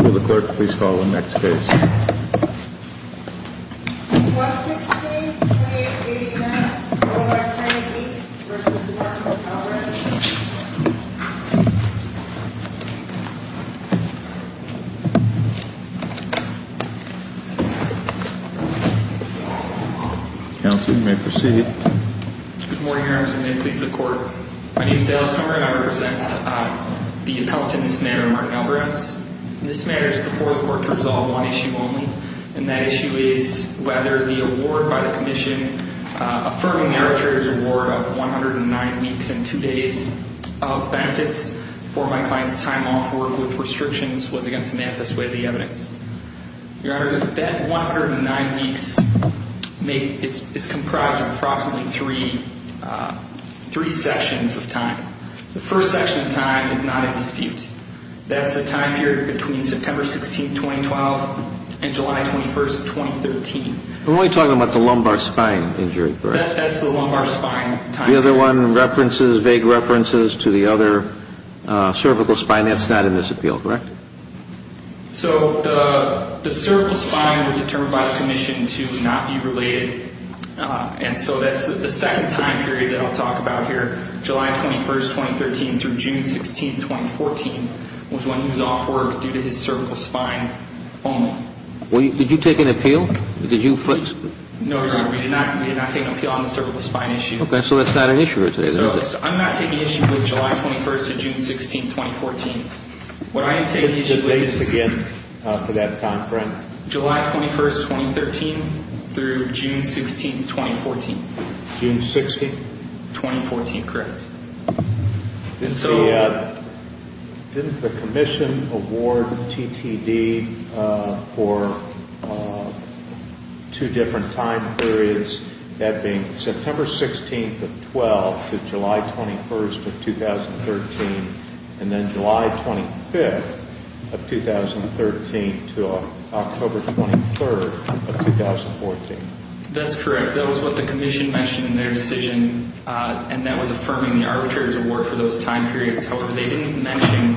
Will the clerk please call the next case? 116.89. Crane, Inc. v. Martin-Alvarez Counsel, you may proceed. Good morning, Your Honor. As the name please of the court. My name is Alex Humber, and I represent the appellant in this matter, Martin-Alvarez. This matter is before the court to resolve one issue only, and that issue is whether the award by the Commission affirming the arbitrator's award of 109 weeks and 2 days of benefits for my client's time off work with restrictions was against an antithesis of the evidence. Your Honor, that 109 weeks is comprised of approximately three sections of time. The first section of time is not in dispute. That's the time period between September 16, 2012 and July 21, 2013. We're only talking about the lumbar spine injury, correct? That's the lumbar spine. The other one references, vague references to the other cervical spine. That's not in this appeal, correct? The cervical spine was determined by the Commission to not be related, and so that's the second time period that I'll talk about here. July 21, 2013 through June 16, 2014 was when he was off work due to his cervical spine only. Did you take an appeal? No, Your Honor, we did not take an appeal on the cervical spine issue. Okay, so that's not an issue for today, then is it? I'm not taking issue with July 21 to June 16, 2014. What I am taking issue with is July 21, 2013 through June 16, 2014. June 16? 2014, correct. Didn't the Commission award TTD for two different time periods, that being September 16th of 2012 to July 21st of 2013, and then July 25th of 2013 to October 23rd of 2014? That's correct. That was what the Commission mentioned in their decision, and that was affirming the arbitrator's award for those time periods. However, they didn't mention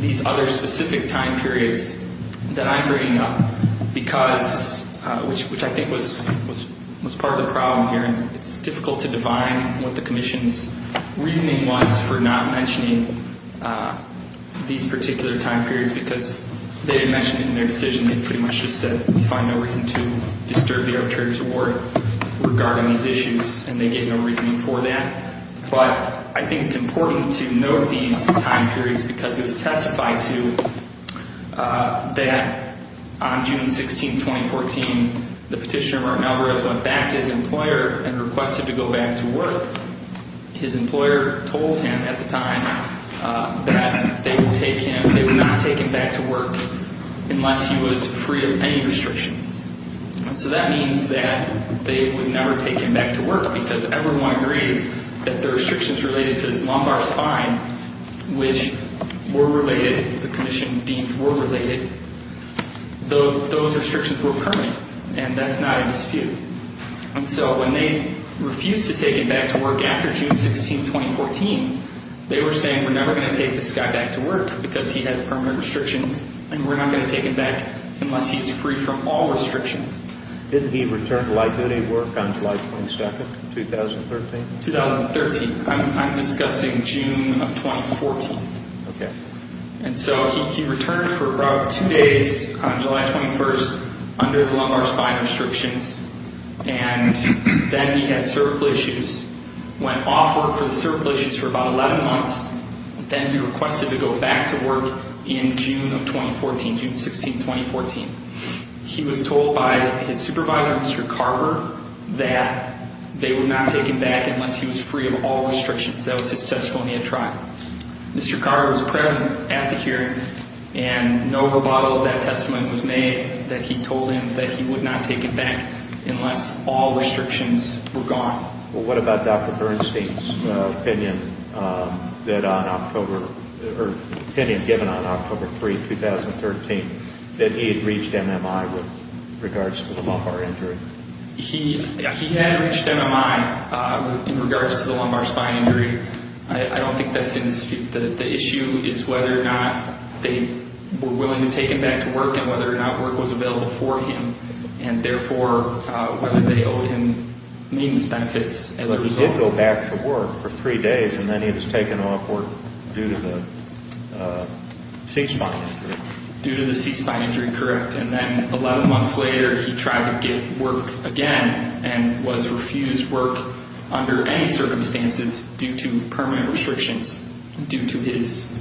these other specific time periods that I'm bringing up, which I think was part of the problem here. It's difficult to define what the Commission's reasoning was for not mentioning these particular time periods because they didn't mention it in their decision. They pretty much just said we find no reason to disturb the arbitrator's award regarding these issues, and they gave no reasoning for that. But I think it's important to note these time periods because it was testified to that on June 16, 2014, the petitioner, Merton Alvarez, went back to his employer and requested to go back to work. His employer told him at the time that they would not take him back to work unless he was free of any restrictions. So that means that they would never take him back to work because everyone agrees that the restrictions related to his lumbar spine, which were related, the Commission deemed were related, those restrictions were permanent, and that's not a dispute. And so when they refused to take him back to work after June 16, 2014, they were saying we're never going to take this guy back to work because he has permanent restrictions, and we're not going to take him back unless he's free from all restrictions. Did he return to light-duty work on July 22, 2013? 2013. I'm discussing June of 2014. Okay. And so he returned for about two days on July 21 under lumbar spine restrictions, and then he had cervical issues, went off work for the cervical issues for about 11 months, and then he requested to go back to work in June of 2014, June 16, 2014. He was told by his supervisor, Mr. Carver, that they would not take him back unless he was free of all restrictions. That was his testimony at trial. Mr. Carver was present at the hearing, and no rebuttal of that testimony was made, that he told him that he would not take him back unless all restrictions were gone. What about Dr. Bernstein's opinion that on October or opinion given on October 3, 2013, that he had reached MMI with regards to the lumbar injury? He had reached MMI in regards to the lumbar spine injury. I don't think that's in dispute. The issue is whether or not they were willing to take him back to work and whether or not work was available for him, and therefore whether they owed him maintenance benefits as a result. He did go back to work for three days, and then he was taken off work due to the C-spine injury. Due to the C-spine injury, correct. And then 11 months later, he tried to get work again and was refused work under any circumstances due to permanent restrictions due to his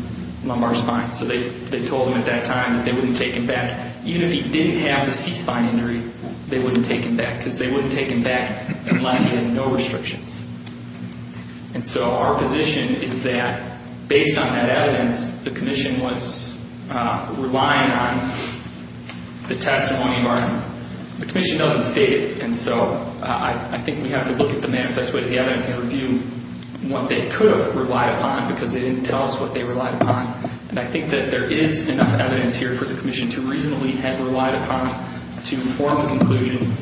lumbar spine. So they told him at that time that they wouldn't take him back. Even if he didn't have the C-spine injury, they wouldn't take him back because they wouldn't take him back unless he had no restrictions. And so our position is that based on that evidence, the commission was relying on the testimony of our—the commission doesn't state it. And so I think we have to look at the manifest way of the evidence and review what they could have relied upon because they didn't tell us what they relied upon. And I think that there is enough evidence here for the commission to reasonably have relied upon to form a conclusion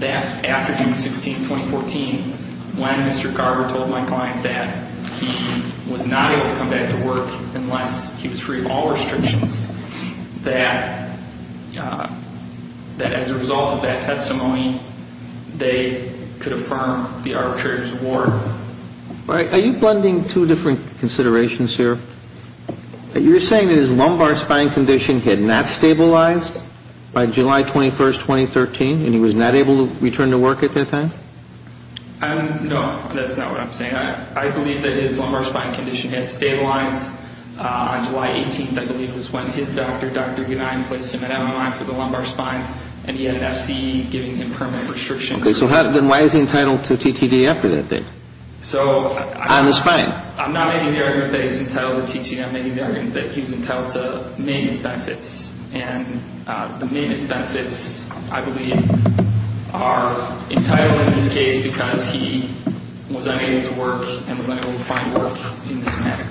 that after June 16, 2014, when Mr. Garber told my client that he was not able to come back to work unless he was free of all restrictions, that as a result of that testimony, they could affirm the arbitrator's award. All right. Are you blending two different considerations here? You're saying that his lumbar spine condition had not stabilized by July 21, 2013, and he was not able to return to work at that time? No, that's not what I'm saying. I believe that his lumbar spine condition had stabilized on July 18th, I believe, was when his doctor, Dr. Gunine, placed him at MMI for the lumbar spine, and he had an FCE giving him permanent restrictions. Okay. So then why is he entitled to TTD after that date? On the spine? I'm not making the argument that he's entitled to TTD. I'm making the argument that he was entitled to maintenance benefits. And the maintenance benefits, I believe, are entitled in this case because he was unable to work and was unable to find work in this manner.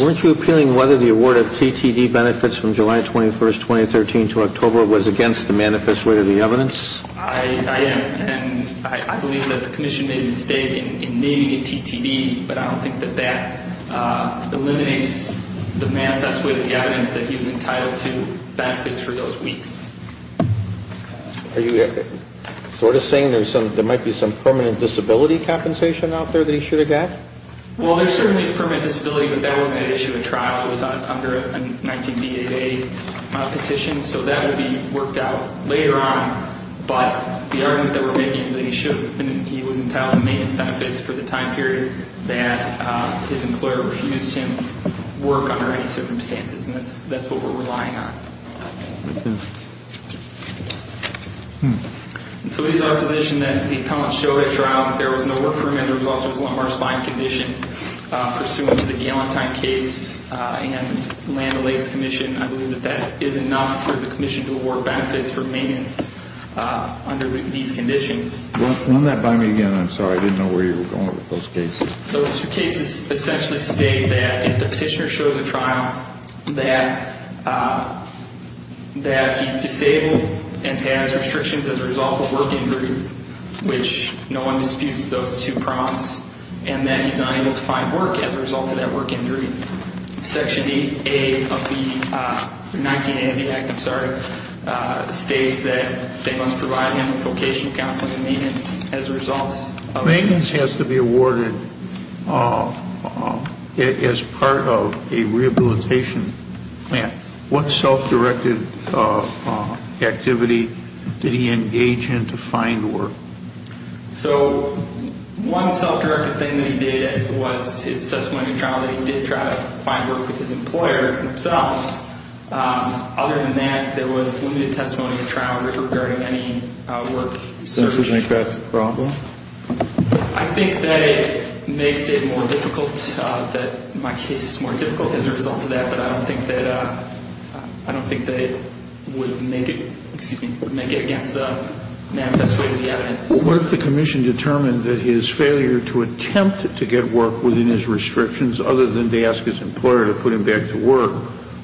Weren't you appealing whether the award of TTD benefits from July 21, 2013 to October was against the manifest way of the evidence? I am, and I believe that the commission made a mistake in naming it TTD, but I don't think that that eliminates the manifest way of the evidence that he was entitled to benefits for those weeks. Are you sort of saying there might be some permanent disability compensation out there that he should have got? Well, there certainly is permanent disability, but that wasn't at issue at trial. It was under a 19BAA petition, so that would be worked out later on. But the argument that we're making is that he was entitled to maintenance benefits for the time period that his employer refused him work under any circumstances, and that's what we're relying on. Okay. So we use our position that the appellant showed at trial that there was no work for him and the result was a lumbar spine condition. Pursuant to the Galentine case and Land O'Lakes Commission, I believe that that is enough for the commission to award benefits for maintenance under these conditions. Run that by me again. I'm sorry. I didn't know where you were going with those cases. Those cases essentially state that if the petitioner shows at trial that he's disabled and has restrictions as a result of work injury, which no one disputes those two prompts, and that he's unable to find work as a result of that work injury, Section 19A of the Act states that they must provide him with vocational counseling and maintenance as a result of that. Maintenance has to be awarded as part of a rehabilitation plan. What self-directed activity did he engage in to find work? So one self-directed thing that he did was his testimony at trial that he did try to find work with his employer themselves. Other than that, there was limited testimony at trial regarding any work search. Do you think that's a problem? I think that it makes it more difficult, that my case is more difficult as a result of that, but I don't think that it would make it against the manifest way of the evidence. What if the commission determined that his failure to attempt to get work within his restrictions, other than to ask his employer to put him back to work,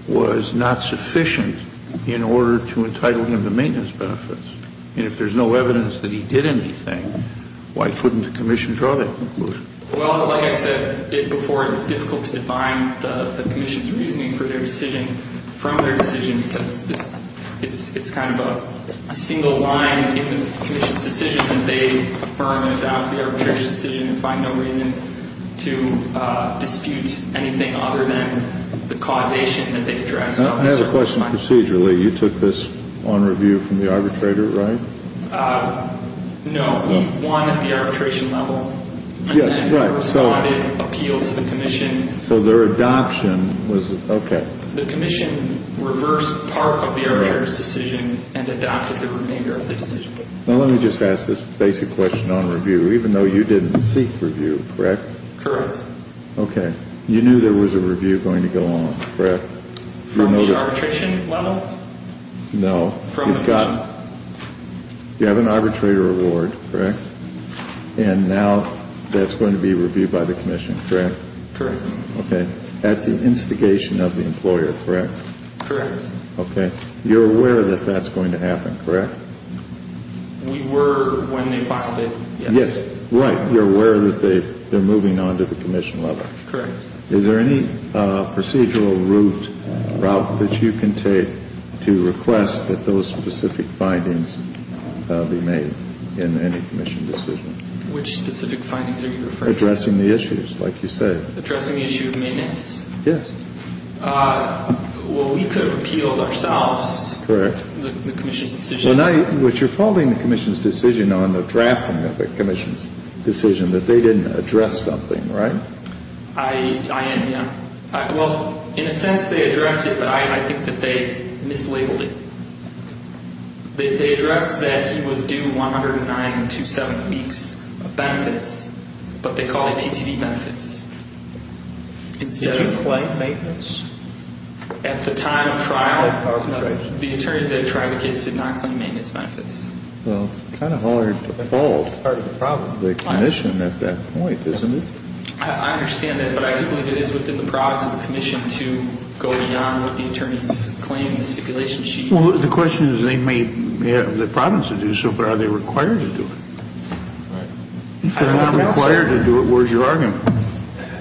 was not sufficient in order to entitle him to maintenance benefits? And if there's no evidence that he did anything, why couldn't the commission draw that conclusion? Well, like I said before, it's difficult to define the commission's reasoning for their decision, from their decision, because it's kind of a single line in the commission's decision that they affirm and doubt the arbitrator's decision and find no reason to dispute anything other than the causation that they address. I have a question procedurally. You took this on review from the arbitrator, right? No, we won at the arbitration level. Yes, right. And then we responded and appealed to the commission. So their adoption was, okay. The commission reversed part of the arbitrator's decision and adopted the remainder of the decision. Now let me just ask this basic question on review. Even though you didn't seek review, correct? Correct. Okay. You knew there was a review going to go on, correct? From the arbitration level? No. You have an arbitrator award, correct? And now that's going to be reviewed by the commission, correct? Correct. Okay. That's the instigation of the employer, correct? Correct. Okay. You're aware that that's going to happen, correct? We were when they filed it, yes. Yes. Right. You're aware that they're moving on to the commission level. Correct. Is there any procedural route that you can take to request that those specific findings be made in any commission decision? Which specific findings are you referring to? Addressing the issues, like you said. Addressing the issue of maintenance? Yes. Well, we could have appealed ourselves. Correct. The commission's decision. Well, now what you're following the commission's decision on the drafting of the commission's decision that they didn't address something, right? I am, yeah. Well, in a sense they addressed it, but I think that they mislabeled it. They addressed that he was due 109 and 27 weeks of benefits, but they called it TTD benefits. Did you claim maintenance? At the time of trial, the attorney that tried the case did not claim maintenance benefits. Well, it's kind of hard to fault the commission at that point, isn't it? I understand that, but I do believe it is within the province of the commission to go beyond what the attorneys claim in the stipulation sheet. Well, the question is they may have the province to do so, but are they required to do it? Right. If they're not required to do it, where's your argument?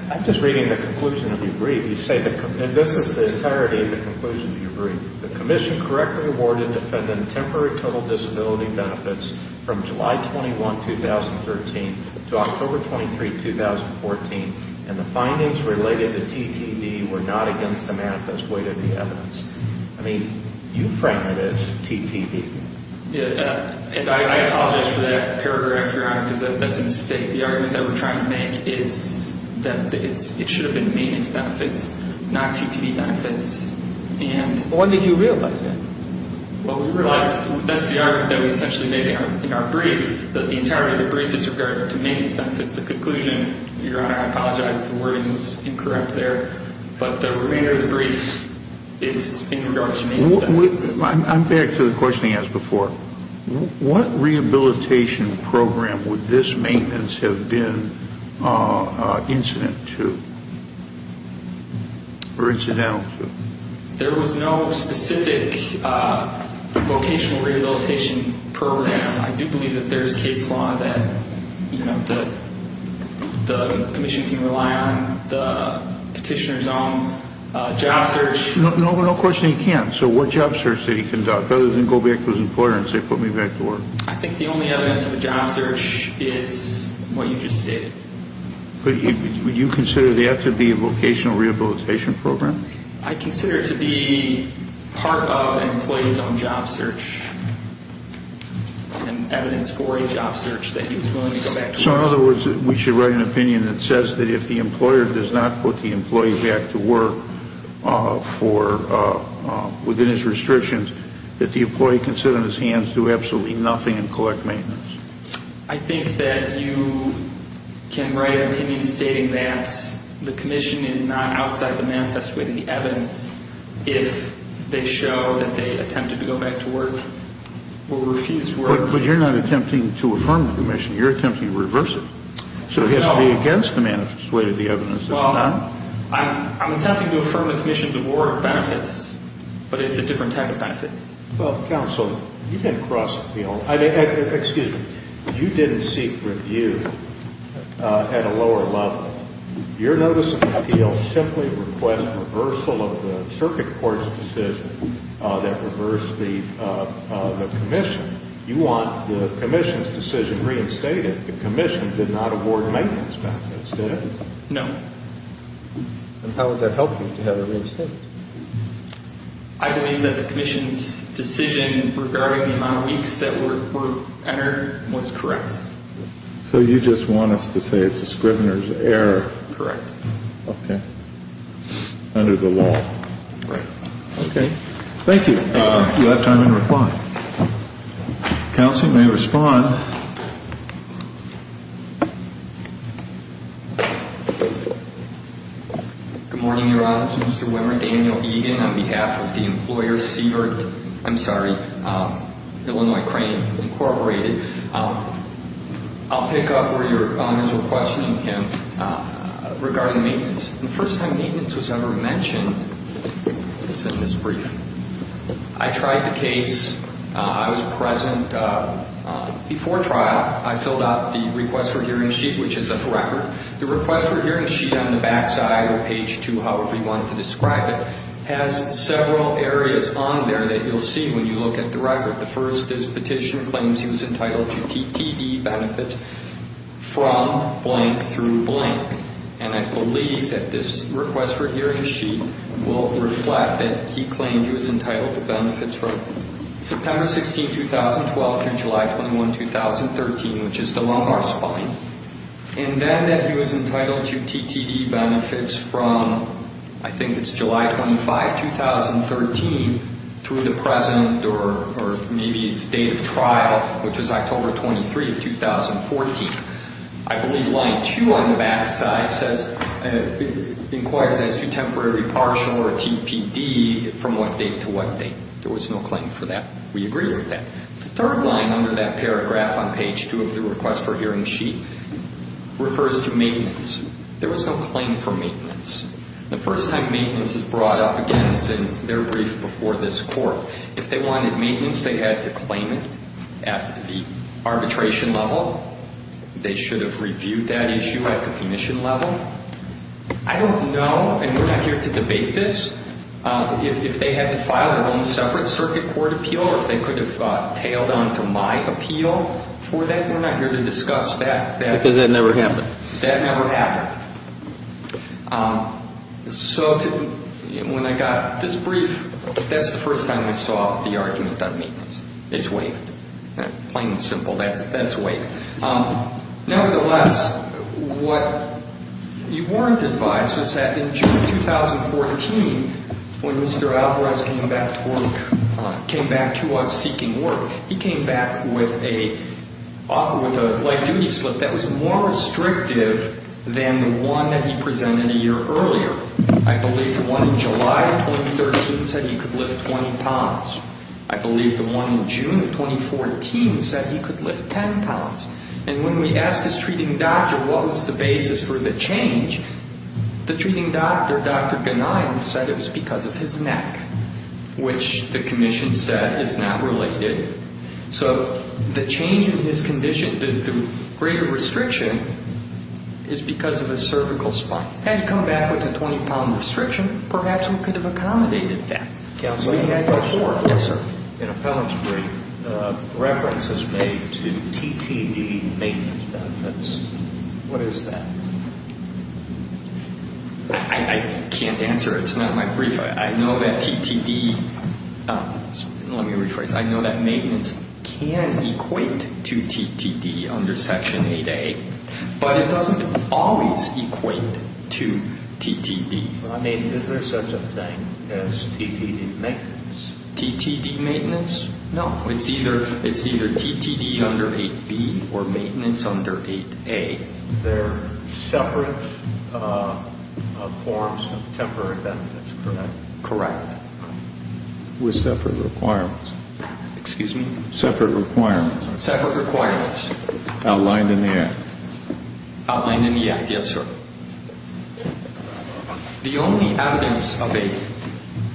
I'm just reading the conclusion of your brief. You say that this is the entirety of the conclusion of your brief. The commission correctly awarded defendant temporary total disability benefits from July 21, 2013 to October 23, 2014, and the findings related to TTD were not against the manifest weight of the evidence. I mean, you frame it as TTD. I apologize for that paragraph, Your Honor, because that's a mistake. The argument that we're trying to make is that it should have been maintenance benefits, not TTD benefits. When did you realize that? Well, we realized that's the argument that we essentially made in our brief, that the entirety of the brief is in regard to maintenance benefits, the conclusion. Your Honor, I apologize. The wording was incorrect there. But the remainder of the brief is in regards to maintenance benefits. I'm back to the question he asked before. What rehabilitation program would this maintenance have been incident to or incidental to? There was no specific vocational rehabilitation program. I do believe that there is case law that the commission can rely on the petitioner's own job search. No question he can't. So what job search did he conduct, other than go back to his employer and say, put me back to work? I think the only evidence of a job search is what you just stated. Would you consider that to be a vocational rehabilitation program? I consider it to be part of an employee's own job search and evidence for a job search that he was willing to go back to work. So in other words, we should write an opinion that says that if the employer does not put the employee back to work within his restrictions, that the employee can sit on his hands, do absolutely nothing and collect maintenance. I think that you can write an opinion stating that the commission is not outside the manifest with the evidence if they show that they attempted to go back to work or refused work. Well, I'm attempting to affirm the commission's award of benefits, but it's a different type of benefits. Well, counsel, you didn't cross the field. Excuse me. You didn't seek review at a lower level. Your notice of appeal simply requests reversal of the circuit court's decision that reversed the commission. You want the commission's decision reinstated. The commission did not award maintenance benefits, did it? No. And how would that help you to have it reinstated? I believe that the commission's decision regarding the amount of weeks that were entered was correct. So you just want us to say it's a Scrivener's error? Correct. Okay. Under the law. Right. Okay. Thank you. You have time in reply. Counsel, you may respond. Good morning, Your Honor. This is Mr. Wimert Daniel Egan on behalf of the employer Sievert, I'm sorry, Illinois Crane Incorporated. I'll pick up where your comments were questioning him regarding maintenance. The first time maintenance was ever mentioned was in this brief. I tried the case. I was present before trial. I filled out the request for hearing sheet, which is a record. The request for hearing sheet on the back side or page 2, however you want to describe it, has several areas on there that you'll see when you look at the record. The first is petition claims he was entitled to TTE benefits from blank through blank. And I believe that this request for hearing sheet will reflect that he claimed he was entitled to benefits from September 16, 2012, through July 21, 2013, which is the lumbar spine. And then that he was entitled to TTE benefits from, I think it's July 25, 2013, through the present or maybe the date of trial, which is October 23, 2014. I believe line 2 on the back side says, inquires as to temporary partial or TPD from what date to what date. There was no claim for that. We agree with that. The third line under that paragraph on page 2 of the request for hearing sheet refers to maintenance. There was no claim for maintenance. The first time maintenance is brought up again is in their brief before this court. If they wanted maintenance, they had to claim it at the arbitration level. They should have reviewed that issue at the commission level. I don't know, and we're not here to debate this, if they had to file their own separate circuit court appeal or if they could have tailed on to my appeal for that. We're not here to discuss that. Because that never happened. That never happened. So when I got this brief, that's the first time we saw the argument on maintenance. It's waived. Plain and simple. That's waived. a year earlier. I believe the one in July of 2013 said he could lift 20 pounds. I believe the one in June of 2014 said he could lift 10 pounds. And when we asked his treating doctor what was the basis for the change, the treating doctor, Dr. Ganian, said it was because of his neck, which the commission said is not related. So the change in his condition, the greater restriction, is because of his cervical spine. Had he come back with a 20-pound restriction, perhaps we could have accommodated that. Counselor? We had before. Yes, sir. An appellant's brief reference is made to TTD maintenance benefits. What is that? I can't answer. It's not in my brief. Let me rephrase. I know that maintenance can equate to TTD under Section 8A, but it doesn't always equate to TTD. Is there such a thing as TTD maintenance? TTD maintenance? No. It's either TTD under 8B or maintenance under 8A. They're separate forms of temporary benefits, correct? Correct. With separate requirements. Excuse me? Separate requirements. Separate requirements. Outlined in the act. Outlined in the act, yes, sir. The only evidence of a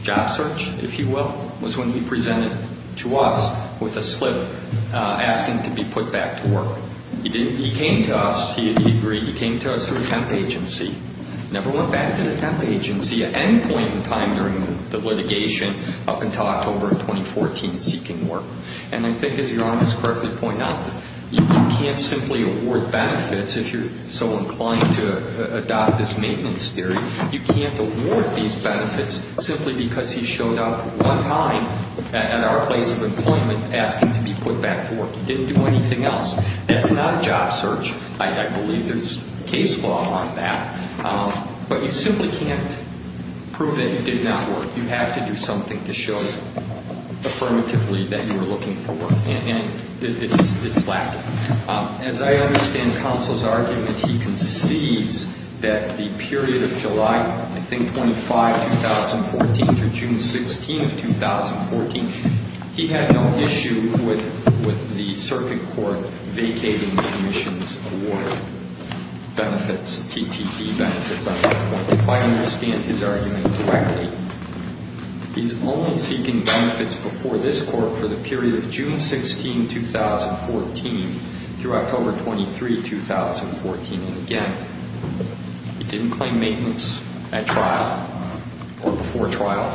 job search, if you will, was when he presented to us with a slip asking to be put back to work. He came to us. He agreed. He came to us through a temp agency. Never went back to the temp agency at any point in time during the litigation up until October of 2014 seeking work. And I think, as your Honor has correctly pointed out, you can't simply award benefits if you're so inclined to adopt this maintenance theory. You can't award these benefits simply because he showed up one time at our place of employment asking to be put back to work. Didn't do anything else. That's not job search. I believe there's case law on that. But you simply can't prove that you did not work. You have to do something to show affirmatively that you were looking for work. And it's lacking. As I understand counsel's argument, he concedes that the period of July, I think, 25, 2014 through June 16 of 2014, he had no issue with the circuit court vacating the commission's award benefits, TTT benefits. If I understand his argument correctly, he's only seeking benefits before this court for the period of June 16, 2014 through October 23, 2014. And, again, he didn't claim maintenance at trial or before trial.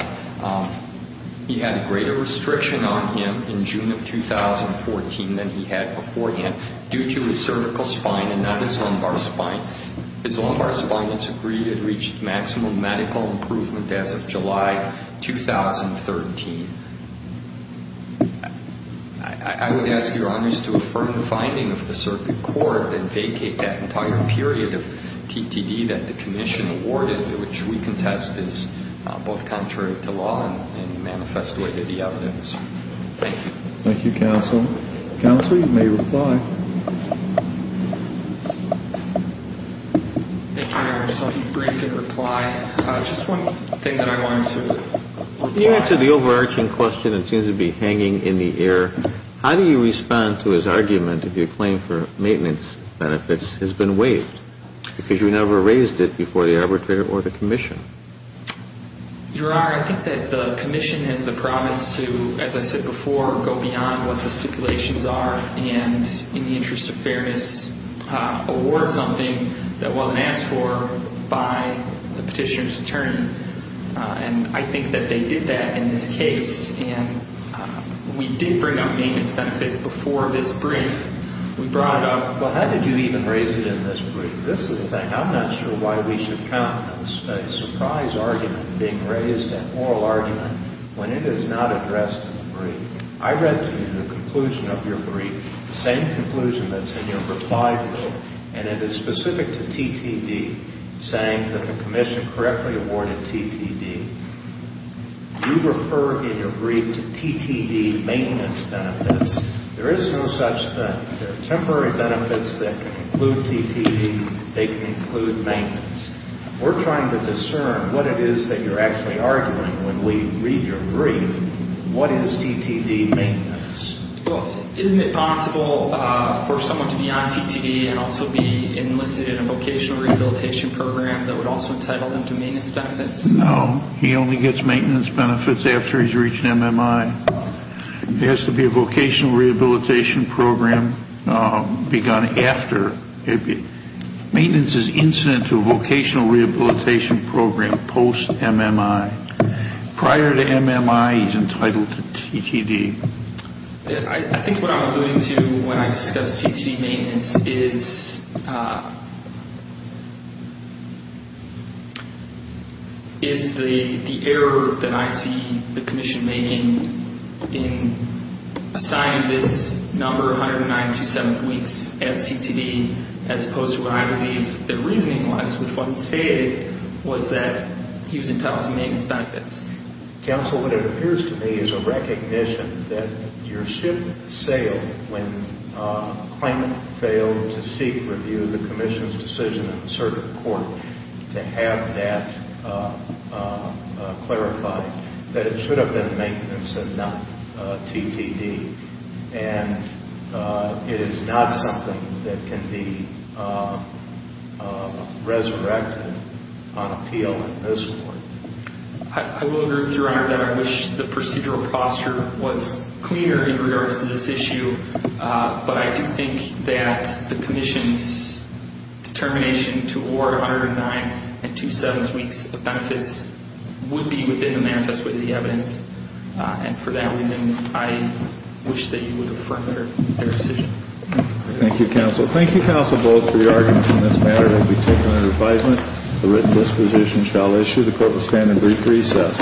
He had a greater restriction on him in June of 2014 than he had beforehand due to his cervical spine and not his lumbar spine. His lumbar spine, it's agreed, had reached maximum medical improvement as of July 2013. I would ask Your Honors to affirm the finding of the circuit court and vacate that entire period of TTD that the commission awarded, which we contest as both contrary to law and manifest way to the evidence. Thank you. Thank you, counsel. Counsel, you may reply. Thank you, Your Honors. I'll keep brief and reply. Just one thing that I wanted to reply on. When you answer the overarching question that seems to be hanging in the air, how do you respond to his argument if your claim for maintenance benefits has been waived because you never raised it before the arbitrator or the commission? Your Honor, I think that the commission has the promise to, as I said before, go beyond what the stipulations are and, in the interest of fairness, and I think that they did that in this case. And we did bring up maintenance benefits before this brief. We brought up. Well, how did you even raise it in this brief? This is the thing. I'm not sure why we should count a surprise argument being raised, a moral argument, when it is not addressed in the brief. I read to you the conclusion of your brief, the same conclusion that's in your reply to it, and it is specific to TTD, saying that the commission correctly awarded TTD. You refer in your brief to TTD maintenance benefits. There is no such thing. There are temporary benefits that can include TTD. They can include maintenance. We're trying to discern what it is that you're actually arguing when we read your brief. What is TTD maintenance? Well, isn't it possible for someone to be on TTD and also be enlisted in a vocational rehabilitation program that would also entitle them to maintenance benefits? No. He only gets maintenance benefits after he's reached MMI. It has to be a vocational rehabilitation program begun after. Maintenance is incident to a vocational rehabilitation program post-MMI. Prior to MMI, he's entitled to TTD. I think what I'm alluding to when I discuss TTD maintenance is the error that I see the commission making in assigning this number 109 to 7 weeks as TTD, as opposed to what I believe the reasoning was, which wasn't stated, was that he was entitled to maintenance benefits. Counsel, what it appears to me is a recognition that your ship sailed when a claimant failed to seek review of the commission's decision in the circuit court to have that clarified, that it should have been maintenance and not TTD. And it is not something that can be resurrected on appeal in this court. I will agree with Your Honor that I wish the procedural posture was cleaner in regards to this issue, but I do think that the commission's determination to award 109 and 2 seventh weeks of benefits would be within the manifest way of the evidence. And for that reason, I wish that you would have furthered their decision. Thank you, counsel. Thank you, counsel, both for your arguments in this matter. It will be taken under advisement. The written disposition shall issue. The court will stand in brief recess.